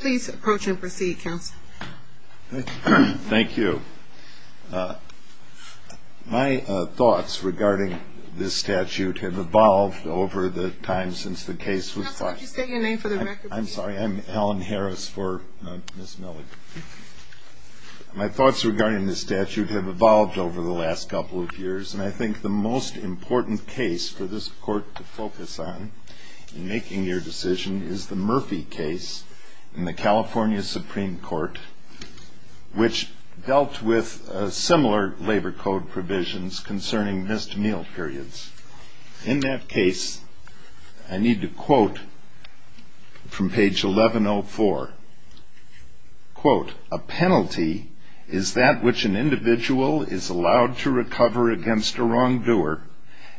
Please approach and proceed counsel. Thank you. My thoughts regarding this statute have evolved over the time since the case was filed. I'm sorry I'm Alan Harris for Ms. Millig. My thoughts regarding this statute have evolved over the last couple of years and I think the most important case for this in the California Supreme Court, which dealt with similar labor code provisions concerning missed meal periods. In that case, I need to quote from page 1104, quote, a penalty is that which an individual is allowed to recover against a wrongdoer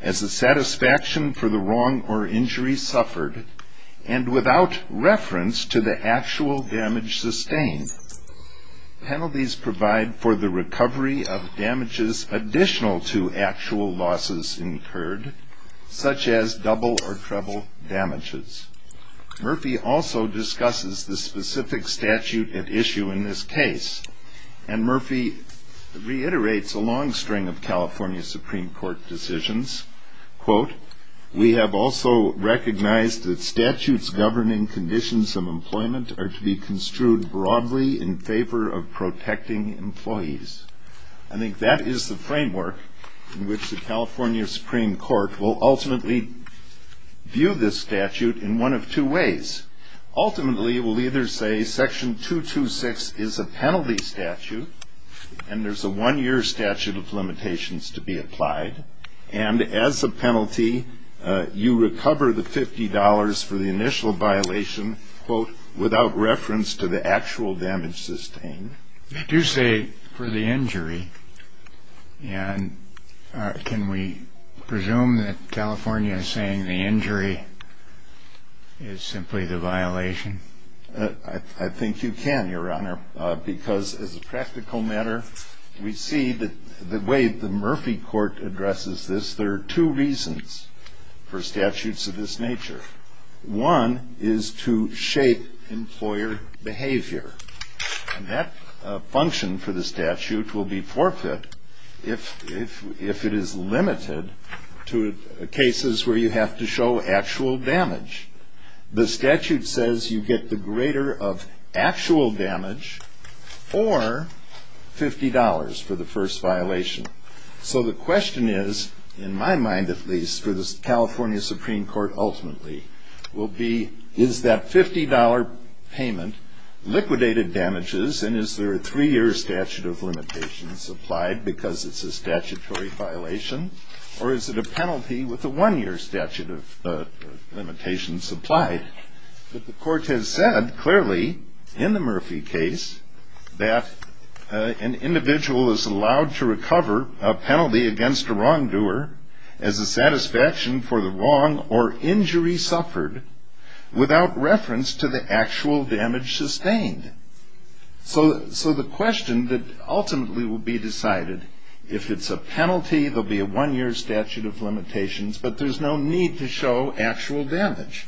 as the satisfaction for the wrong or injury suffered and without reference to the actual damage sustained. Penalties provide for the recovery of damages additional to actual losses incurred, such as double or treble damages. Murphy also discusses the specific statute at issue in this case and Murphy reiterates a long string of California Supreme Court decisions. Quote, we have also recognized that statutes governing conditions of employment are to be construed broadly in favor of protecting employees. I think that is the framework in which the California Supreme Court will ultimately view this statute in one of two ways. Ultimately, it will either say section 226 is a penalty statute and there's a one-year statute of implied and as a penalty, you recover the $50 for the initial violation, quote, without reference to the actual damage sustained. They do say for the injury and can we presume that California is saying the injury is simply the violation? I think you can, Your Honor, because as a practical matter, we see that the way the Murphy Court addresses this, there are two reasons for statutes of this nature. One is to shape employer behavior and that function for the statute will be forfeit if it is limited to cases where you have to show actual damage. The statute says you get the greater of actual damage or $50 for the first violation. So the question is, in my mind at least for the California Supreme Court ultimately, will be is that $50 payment liquidated damages and is there a three-year statute of limitations applied because it's a statutory violation or is it a penalty with a one-year statute of limitations applied? But the court has said clearly in the Murphy case that an individual is allowed to recover a penalty against a wrongdoer as a satisfaction for the wrong or injury suffered without reference to the actual damage sustained. So the question that ultimately will be decided if it's a penalty, there'll be a one-year statute of limitations, but there's no need to show actual damage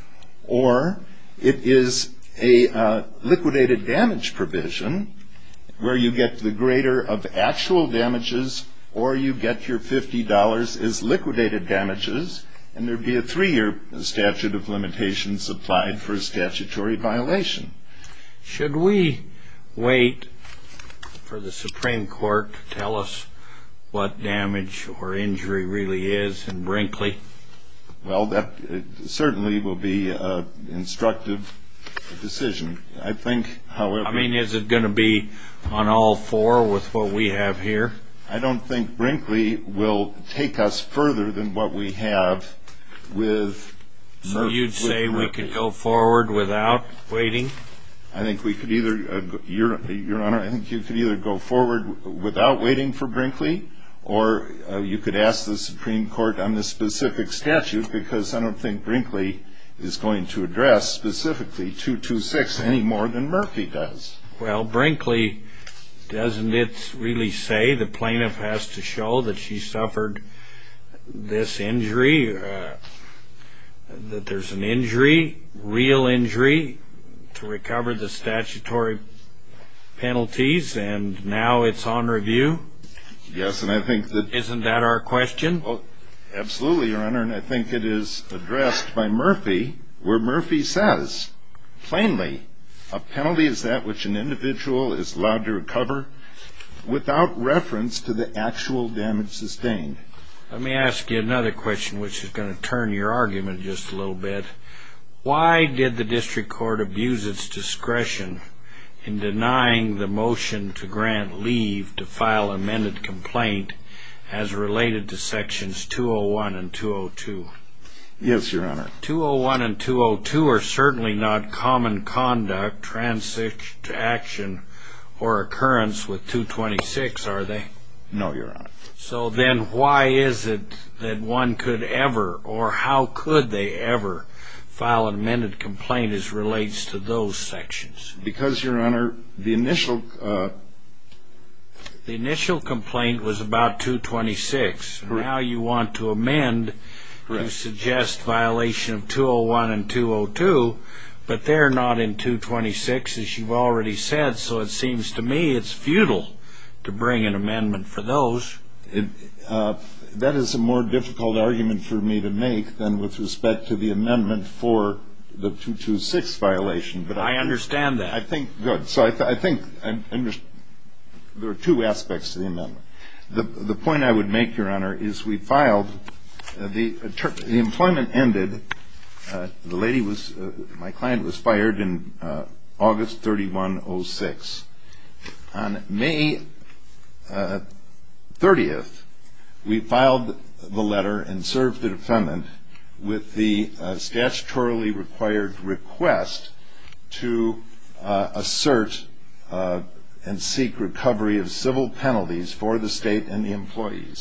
or it is a liquidated damage provision where you get the actual damages or you get your $50 as liquidated damages and there'd be a three-year statute of limitations applied for a statutory violation. Should we wait for the Supreme Court to tell us what damage or injury really is in Brinkley? Well, that certainly will be an instructive decision. I think, however... I mean, is it going to be on all four with what we have here? I don't think Brinkley will take us further than what we have with Murphy. So you'd say we could go forward without waiting? I think we could either, Your Honor, I think you could either go forward without waiting for Brinkley or you could ask the Supreme Court on the specific statute because I don't think Brinkley is going to address specifically 226 any more than Murphy does. Well, Brinkley, doesn't it really say the plaintiff has to show that she suffered this injury, that there's an injury, real injury, to recover the statutory penalties and now it's on review? Yes, and I think that... Isn't that our question? Absolutely, Your Honor, and I think it is addressed by Murphy where Murphy says, plainly, a penalty is that which an individual is allowed to recover without reference to the actual damage sustained. Let me ask you another question which is going to turn your argument just a little bit. Why did the District Court abuse its discretion in denying the motion to grant leave to file amended complaint as related to 201 and 202? Yes, Your Honor. 201 and 202 are certainly not common conduct, transition to action, or occurrence with 226, are they? No, Your Honor. So then why is it that one could ever, or how could they ever, file amended complaint as relates to those sections? Because, Your Honor, the initial complaint was about 226, and you suggest violation of 201 and 202, but they're not in 226, as you've already said, so it seems to me it's futile to bring an amendment for those. That is a more difficult argument for me to make than with respect to the amendment for the 226 violation. But I understand that. I think, good, so I think there are two aspects to the amendment. The point I would make, Your Honor, the employment ended. My client was fired in August 3106. On May 30th, we filed the letter and served the defendant with the statutorily required request to assert and seek recovery of civil penalties for the state and the state.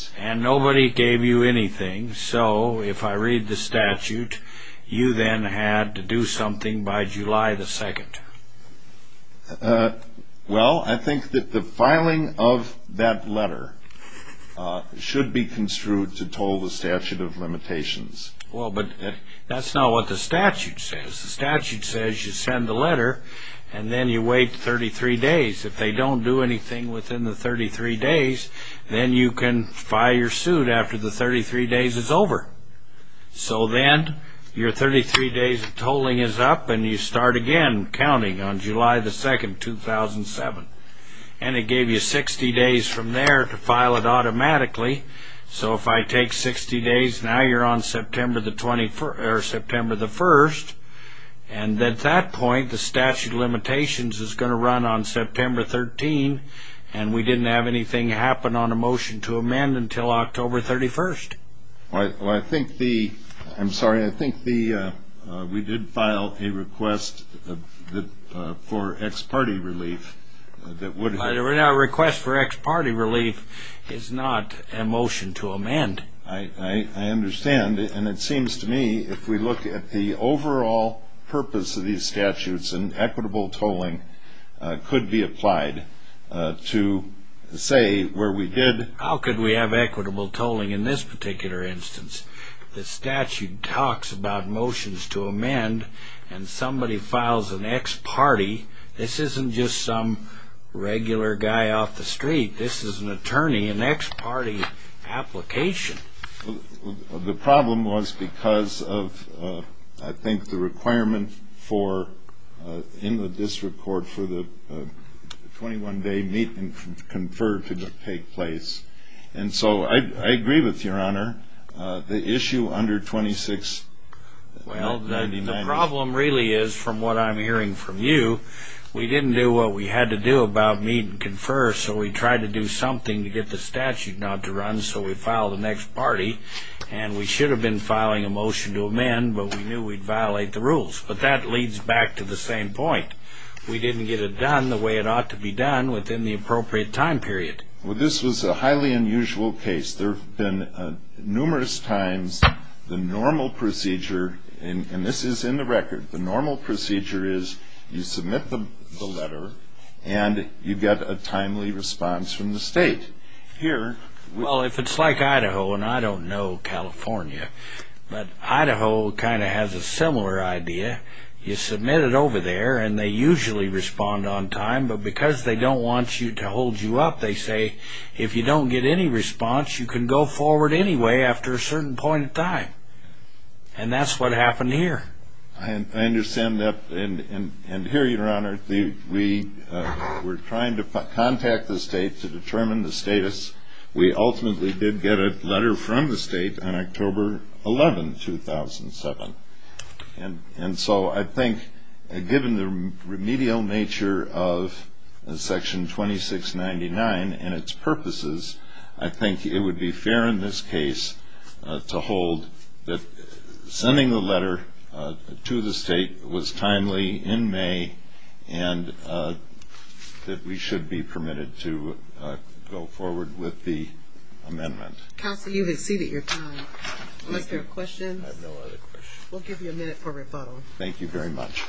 So, if I read the statute, you then had to do something by July the 2nd. Well, I think that the filing of that letter should be construed to toll the statute of limitations. Well, but that's not what the statute says. The statute says you send the letter and then you wait 33 days. If they don't do anything within the 33 days, then you can file your suit after the 33 days is over. So then, your 33 days of tolling is up and you start again counting on July the 2nd, 2007. And it gave you 60 days from there to file it automatically. So, if I take 60 days, now you're on September the 21st. And at that point, the And we didn't have anything happen on a motion to amend until October 31st. Well, I think the, I'm sorry, I think the, we did file a request for ex-party relief that would... A request for ex-party relief is not a motion to amend. I understand. And it seems to me, if we look at the overall purpose of these to say where we did... How could we have equitable tolling in this particular instance? The statute talks about motions to amend and somebody files an ex-party. This isn't just some regular guy off the street. This is an attorney, an ex-party application. The problem was because of, I think, the requirement for, in the district court, for the 21-day meet and confer to take place. And so, I agree with your honor. The issue under 26... Well, the problem really is, from what I'm hearing from you, we didn't do what we had to do about meet and confer. So, we tried to do something to get the statute not to run. So, we filed the next party. And we should have been filing a motion to amend, but we knew we'd have to do it. But that leads back to the same point. We didn't get it done the way it ought to be done within the appropriate time period. Well, this was a highly unusual case. There have been numerous times the normal procedure, and this is in the record, the normal procedure is you submit the letter and you get a timely response from the state. Here... Well, if it's like Idaho, and I don't know California, but Idaho kind of has a similar idea. You submit it over there, and they usually respond on time. But because they don't want you to hold you up, they say, if you don't get any response, you can go forward anyway after a certain point in time. And that's what happened here. I understand that. And here, your honor, we were trying to contact the state to determine the state on October 11, 2007. And so I think, given the remedial nature of Section 2699 and its purposes, I think it would be fair in this case to hold that sending the letter to the state was timely in May, and that we should be Thank you. I appreciate your time. Unless there are questions? I have no other questions. We'll give you a minute for rebuttal. Thank you very much.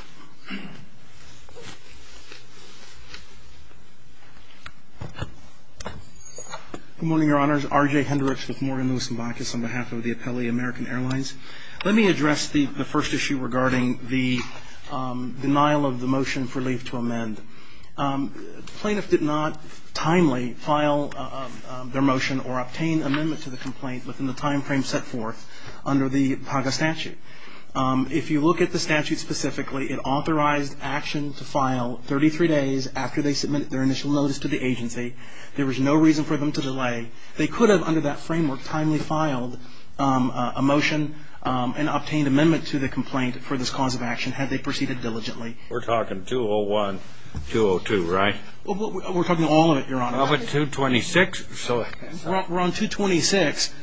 Good morning, Your Honors. R.J. Hendricks with Morgan Lewis & Bonkus on behalf of the Appelli American Airlines. Let me address the first issue regarding the denial of the motion for leave to amend. The plaintiff did not timely file their motion or obtain amendment to the complaint within the timeframe set forth under the PAGA statute. If you look at the statute specifically, it authorized action to file 33 days after they submitted their initial notice to the agency. There was no reason for them to delay. They could have, under that framework, timely filed a motion and obtained amendment to the complaint for this cause of action had they proceeded diligently. We're talking 201-202, right? We're talking all of it, Your Honor. All of it, 226. We're on 226,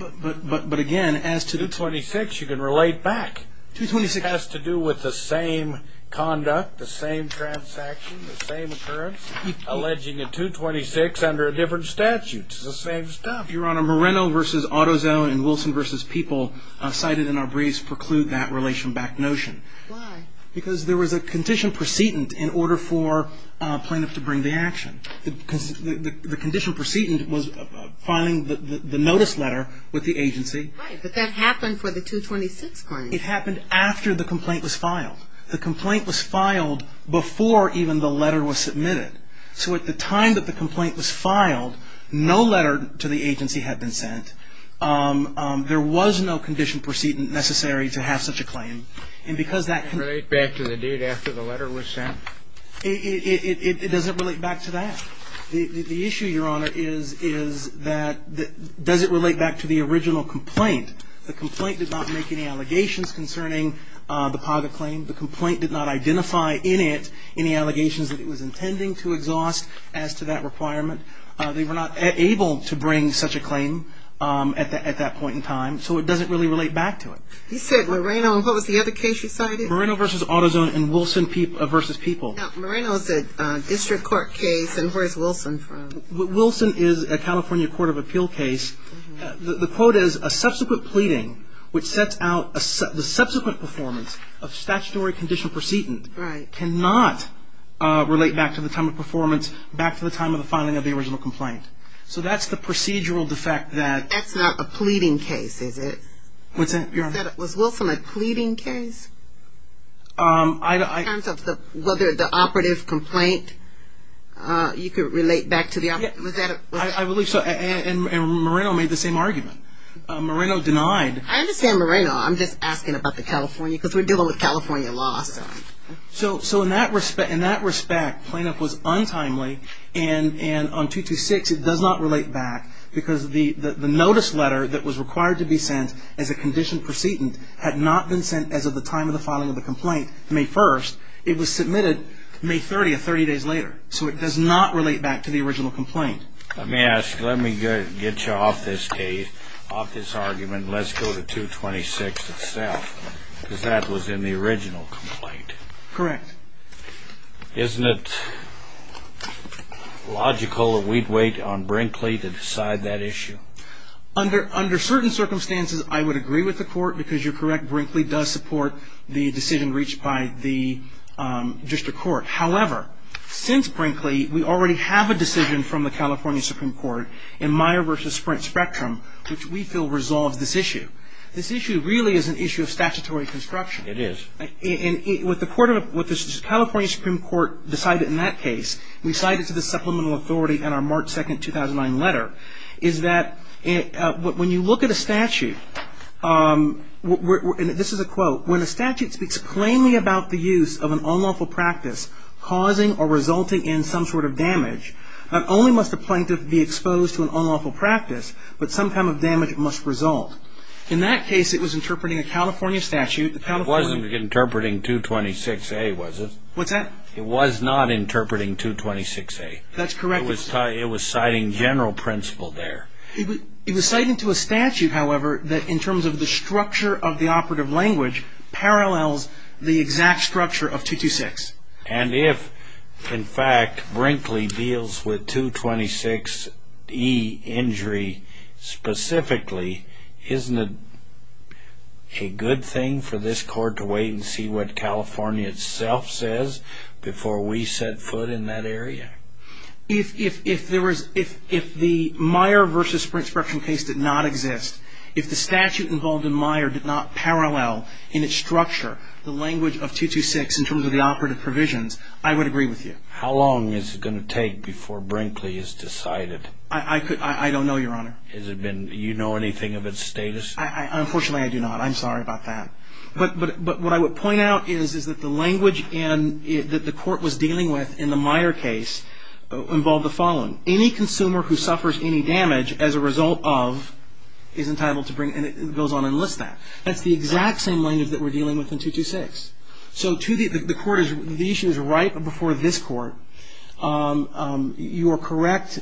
but again, as to the... 226, you can relate back. 226... It has to do with the same conduct, the same transaction, the same occurrence, alleging a 226 under a different statute. It's the same stuff. Your Honor, Moreno v. AutoZone and Wilson v. People cited in our briefs preclude that relation-backed notion. Why? Because there was a condition precedent in order for a plaintiff to bring the action. The condition precedent was filing the notice letter with the agency. Right. But that happened for the 226 claim. It happened after the complaint was filed. The complaint was filed before even the letter was submitted. So at the time that the complaint was filed, no letter to the agency had been sent. There was no condition precedent necessary to have such a claim. And because that... It doesn't relate back to that. The issue, Your Honor, is that... Does it relate back to the original complaint? The complaint did not make any allegations concerning the PAGA claim. The complaint did not identify in it any allegations that it was intending to exhaust as to that requirement. They were not able to bring such a claim at that point in time. So it doesn't really relate back to it. You said Moreno. What was the other case you cited? Moreno v. AutoZone and Wilson v. People. Moreno is a district court case. And where is Wilson from? Wilson is a California Court of Appeal case. The quote is, a subsequent pleading which sets out the subsequent performance of statutory condition precedent cannot relate back to the time of performance, back to the time of the filing of the original complaint. So that's the procedural defect that... That's not a pleading case, is it? What's that, Your Honor? Was Wilson a pleading case? In terms of whether the operative complaint, you could relate back to the... Was that... I believe so. And Moreno made the same argument. Moreno denied... I understand Moreno. I'm just asking about the California, because we're dealing with California law, so... So in that respect, plaintiff was untimely. And on 226, it does not relate back because the notice letter that was sent as of the time of the filing of the complaint, May 1st, it was submitted May 30th, 30 days later. So it does not relate back to the original complaint. Let me ask, let me get you off this case, off this argument. Let's go to 226 itself, because that was in the original complaint. Correct. Isn't it logical that we'd wait on Brinkley to decide that issue? Under certain circumstances, I would agree with the court, because you're correct, Brinkley does support the decision reached by the district court. However, since Brinkley, we already have a decision from the California Supreme Court in Meyer v. Sprint Spectrum, which we feel resolves this issue. This issue really is an issue of statutory construction. It is. And what the California Supreme Court decided in that case, and we cite it to the supplemental authority in our March 2nd, 2009 letter, is that when you look at a statute, and this is a quote, when a statute speaks plainly about the use of an unlawful practice causing or resulting in some sort of damage, not only must a plaintiff be exposed to an unlawful practice, but some kind of damage must result. In that case, it was interpreting a California statute. It wasn't interpreting 226A, was it? What's that? It was not interpreting 226A. That's correct. It was citing general principle there. It was citing to a statute, however, that in terms of the structure of the operative language parallels the exact structure of 226. And if, in fact, Brinkley deals with 226E injury specifically, isn't it a good thing for this Court to wait and see what California itself says before we set foot in that area? If the Meyer v. Sprint Structural case did not exist, if the statute involved in Meyer did not parallel in its structure the language of 226 in terms of the operative provisions, I would agree with you. How long is it going to take before Brinkley is decided? I don't know, Your Honor. You know anything of its status? Unfortunately, I do not. I'm sorry about that. But what I would point out is that the language that the Court was dealing with in the Meyer case involved the following. Any consumer who suffers any damage as a result of is entitled to bring, and it goes on and lists that. That's the exact same language that we're dealing with in 226. So the issue is right before this Court. You are correct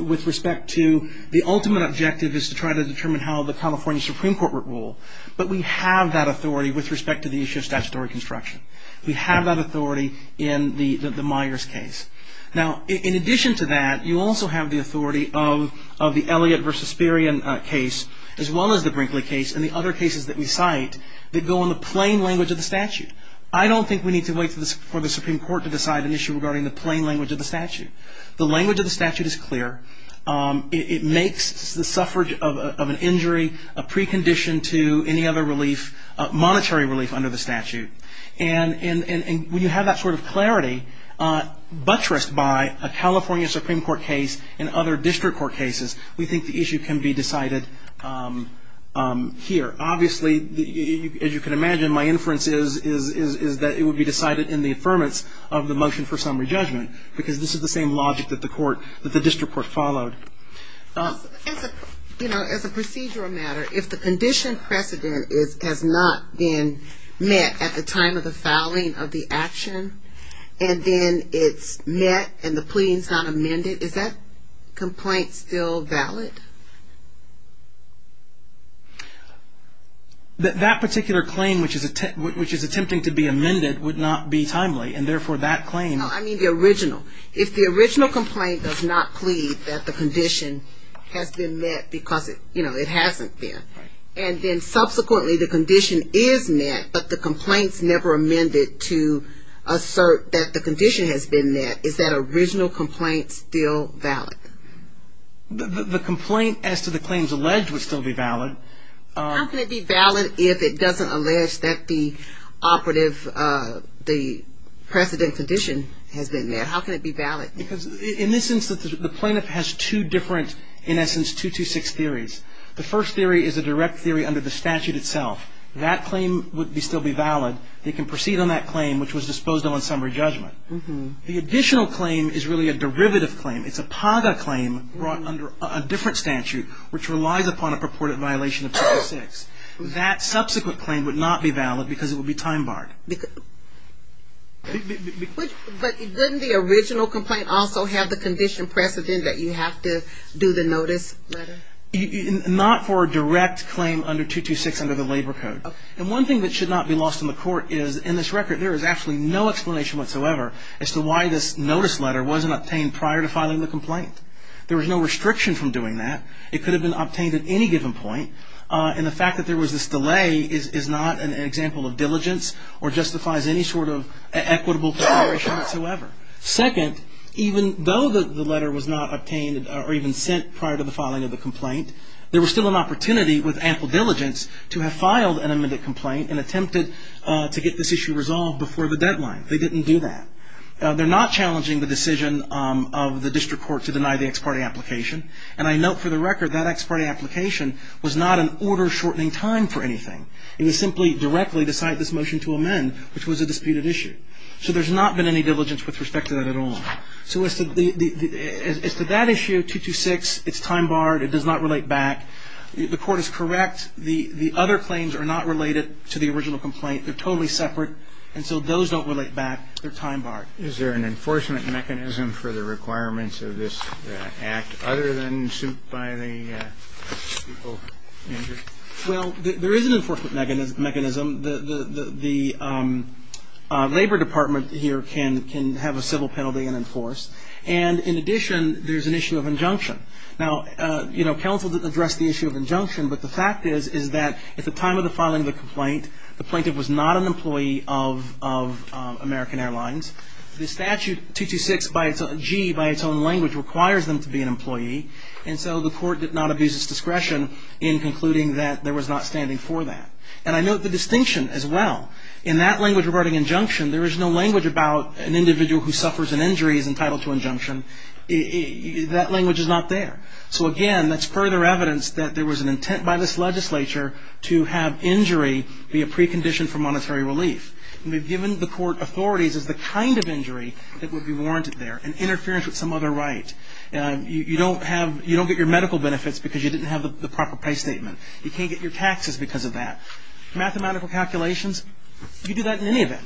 with respect to the ultimate objective is to try to determine how the California Supreme Court would rule, but we have that authority with respect to the issue of statutory construction. We have that authority in the Meyers case. Now, in addition to that, you also have the authority of the Elliott v. Sperian case, as well as the Brinkley case and the other cases that we cite that go on the plain language of the statute. I don't think we need to wait for the Supreme Court to decide an issue regarding the plain language of the statute. The language of the statute is clear. It makes the suffrage of an injury a precondition to any other relief, monetary relief under the statute. And when you have that sort of clarity buttressed by a California Supreme Court case and other district court cases, we think the issue can be decided here. Obviously, as you can imagine, my inference is that it would be decided in the affirmance of the motion for summary judgment because this is the same logic that the district court followed. As a procedural matter, if the condition precedent has not been met at the time of the filing of the action and then it's met and the plea is not amended, is that complaint still valid? That particular claim, which is attempting to be amended, would not be timely, and therefore that claim I mean the original. If the original complaint does not plead that the condition has been met because it hasn't been, and then subsequently the condition is met but the complaint's never amended to assert that the condition has been met, is that original complaint still valid? The complaint as to the claims alleged would still be valid. How can it be valid if it doesn't allege that the operative, the precedent condition has been met? How can it be valid? Because in this instance, the plaintiff has two different, in essence, 226 theories. The first theory is a direct theory under the statute itself. That claim would still be valid. They can proceed on that claim, which was disposed of on summary judgment. The additional claim is really a derivative claim. It's a PAGA claim brought under a different statute, which relies upon a purported violation of 226. That subsequent claim would not be valid because it would be time-barred. But didn't the original complaint also have the condition precedent that you have to do the notice letter? Not for a direct claim under 226 under the labor code. And one thing that should not be lost in the court is, in this record, there is absolutely no explanation whatsoever as to why this notice letter wasn't obtained prior to filing the complaint. There was no restriction from doing that. It could have been obtained at any given point. And the fact that there was this delay is not an example of diligence or justifies any sort of equitable consideration whatsoever. Second, even though the letter was not obtained or even sent prior to the filing of the complaint, there was still an opportunity with ample diligence to have filed an amended complaint and attempted to get this issue resolved before the deadline. They didn't do that. They're not challenging the decision of the district court to deny the ex parte application. And I note for the record that ex parte application was not an order-shortening time for anything. It was simply directly to cite this motion to amend, which was a disputed issue. So there's not been any diligence with respect to that at all. So as to that issue, 226, it's time-barred. It does not relate back. The court is correct. The other claims are not related to the original complaint. They're totally separate. And so those don't relate back. They're time-barred. Is there an enforcement mechanism for the requirements of this act other than suit by the people injured? Well, there is an enforcement mechanism. The Labor Department here can have a civil penalty and enforce. And in addition, there's an issue of injunction. Now, you know, counsel didn't address the issue of injunction, but the fact is that at the time of the filing of the complaint, the plaintiff was not an employee of American Airlines. The statute 226-G, by its own language, requires them to be an employee. And so the court did not abuse its discretion in concluding that there was not standing for that. And I note the distinction as well. In that language regarding injunction, there is no language about an individual who suffers an injury is entitled to injunction. That language is not there. So, again, that's further evidence that there was an intent by this legislature to have injury be a precondition for monetary relief. And we've given the court authorities as the kind of injury that would be warranted there, an interference with some other right. You don't get your medical benefits because you didn't have the proper pay statement. You can't get your taxes because of that. Mathematical calculations, you do that in any event.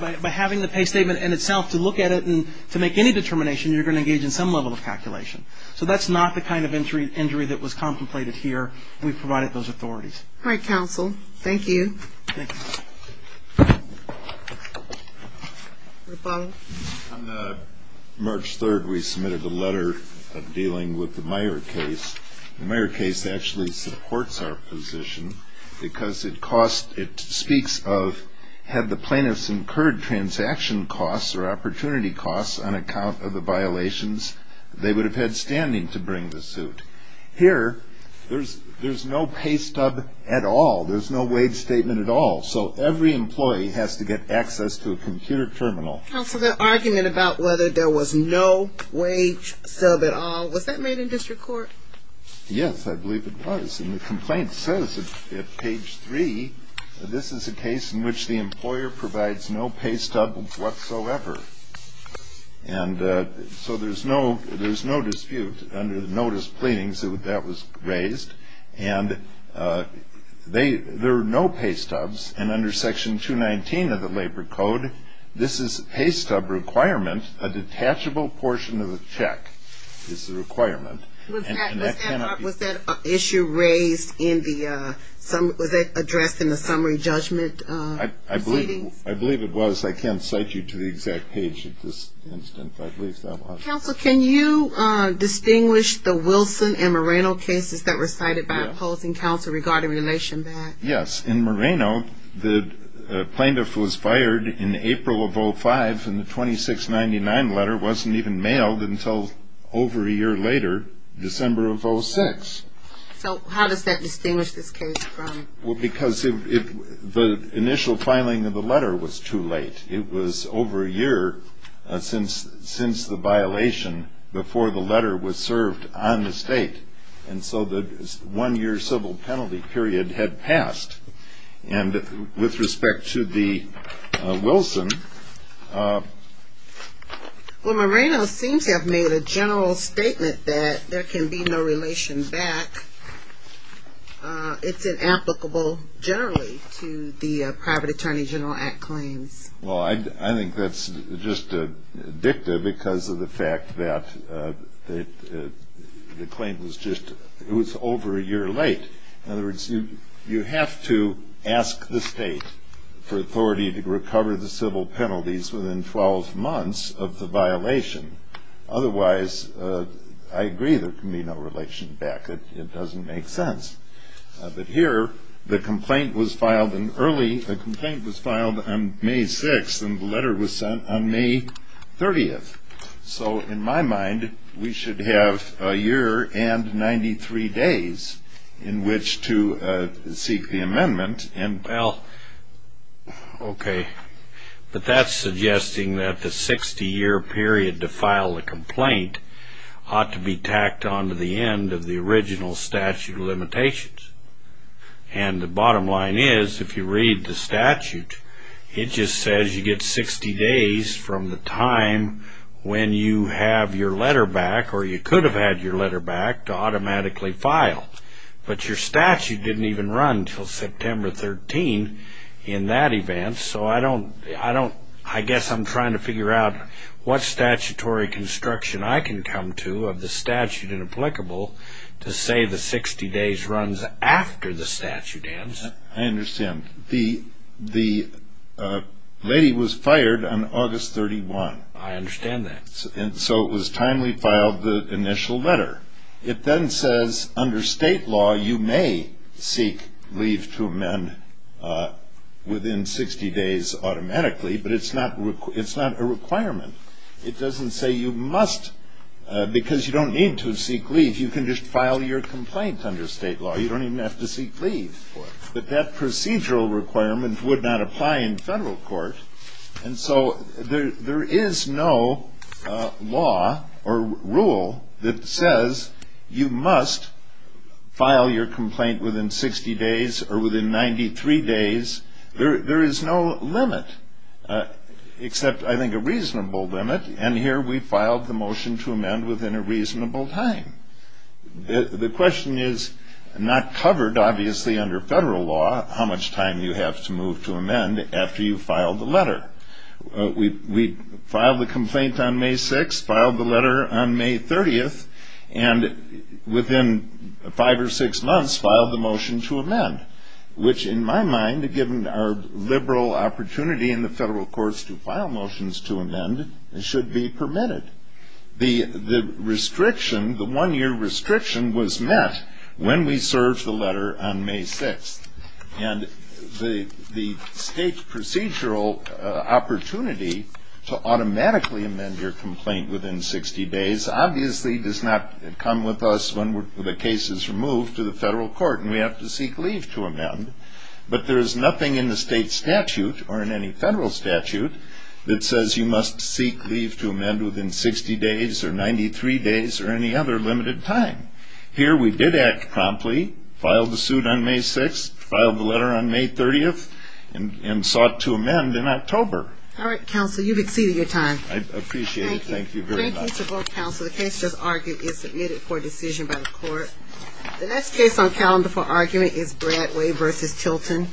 By having the pay statement in itself to look at it and to make any determination, you're going to engage in some level of calculation. So that's not the kind of injury that was contemplated here. We've provided those authorities. All right, counsel. Thank you. Thank you. On March 3rd, we submitted a letter dealing with the Meyer case. The Meyer case actually supports our position because it speaks of had the plaintiffs incurred transaction costs or opportunity costs on account of the violations, they would have had standing to bring the suit. Here, there's no pay stub at all. There's no wage statement at all. So every employee has to get access to a computer terminal. Counsel, the argument about whether there was no wage stub at all, was that made in district court? Yes, I believe it was. And the complaint says at page 3, this is a case in which the employer provides no pay stub whatsoever. And so there's no dispute under the notice of pleadings that that was raised. And there are no pay stubs. And under Section 219 of the Labor Code, this is pay stub requirement. A detachable portion of the check is the requirement. Was that issue raised in the summary judgment? I believe it was. I can't cite you to the exact page at this instant, but I believe that was. Counsel, can you distinguish the Wilson and Moreno cases that were cited by opposing counsel regarding relation back? Yes. In Moreno, the plaintiff was fired in April of 05, and the 2699 letter wasn't even mailed until over a year later, December of 06. So how does that distinguish this case from? Well, because the initial filing of the letter was too late. It was over a year since the violation before the letter was served on the state. And so the one-year civil penalty period had passed. And with respect to the Wilson. Well, Moreno seems to have made a general statement that there can be no relation back. It's inapplicable generally to the Private Attorney General Act claims. Well, I think that's just addictive because of the fact that the claim was just over a year late. In other words, you have to ask the state for authority to recover the civil penalties within 12 months of the violation. Otherwise, I agree there can be no relation back. It doesn't make sense. But here, the complaint was filed in early. The complaint was filed on May 6, and the letter was sent on May 30. So in my mind, we should have a year and 93 days in which to seek the amendment. Okay. But that's suggesting that the 60-year period to file a complaint ought to be tacked onto the end of the original statute of limitations. And the bottom line is, if you read the statute, it just says you get 60 days from the time when you have your letter back, or you could have had your letter back, to automatically file. But your statute didn't even run until September 13 in that event, so I guess I'm trying to figure out what statutory construction I can come to of the statute inapplicable to say the 60 days runs after the statute ends. I understand. The lady was fired on August 31. I understand that. So it was time we filed the initial letter. It then says, under state law, you may seek leave to amend within 60 days automatically, but it's not a requirement. It doesn't say you must, because you don't need to seek leave. You can just file your complaint under state law. You don't even have to seek leave. But that procedural requirement would not apply in federal court. And so there is no law or rule that says you must file your complaint within 60 days or within 93 days. There is no limit except, I think, a reasonable limit, and here we filed the motion to amend within a reasonable time. The question is not covered, obviously, under federal law, how much time you have to move to amend after you file the letter. We filed the complaint on May 6, filed the letter on May 30, and within five or six months filed the motion to amend, which in my mind, given our liberal opportunity in the federal courts to file motions to amend, should be permitted. The restriction, the one-year restriction, was met when we served the letter on May 6. And the state procedural opportunity to automatically amend your complaint within 60 days obviously does not come with us when the case is removed to the federal court and we have to seek leave to amend. But there is nothing in the state statute or in any federal statute that says you must seek leave to amend within 60 days or 93 days or any other limited time. Here we did act promptly, filed the suit on May 6, filed the letter on May 30, and sought to amend in October. All right, counsel, you've exceeded your time. I appreciate it. Thank you very much. Thank you to both counsel. The case just argued is submitted for decision by the court. The next case on calendar for argument is Bradway v. Tilton.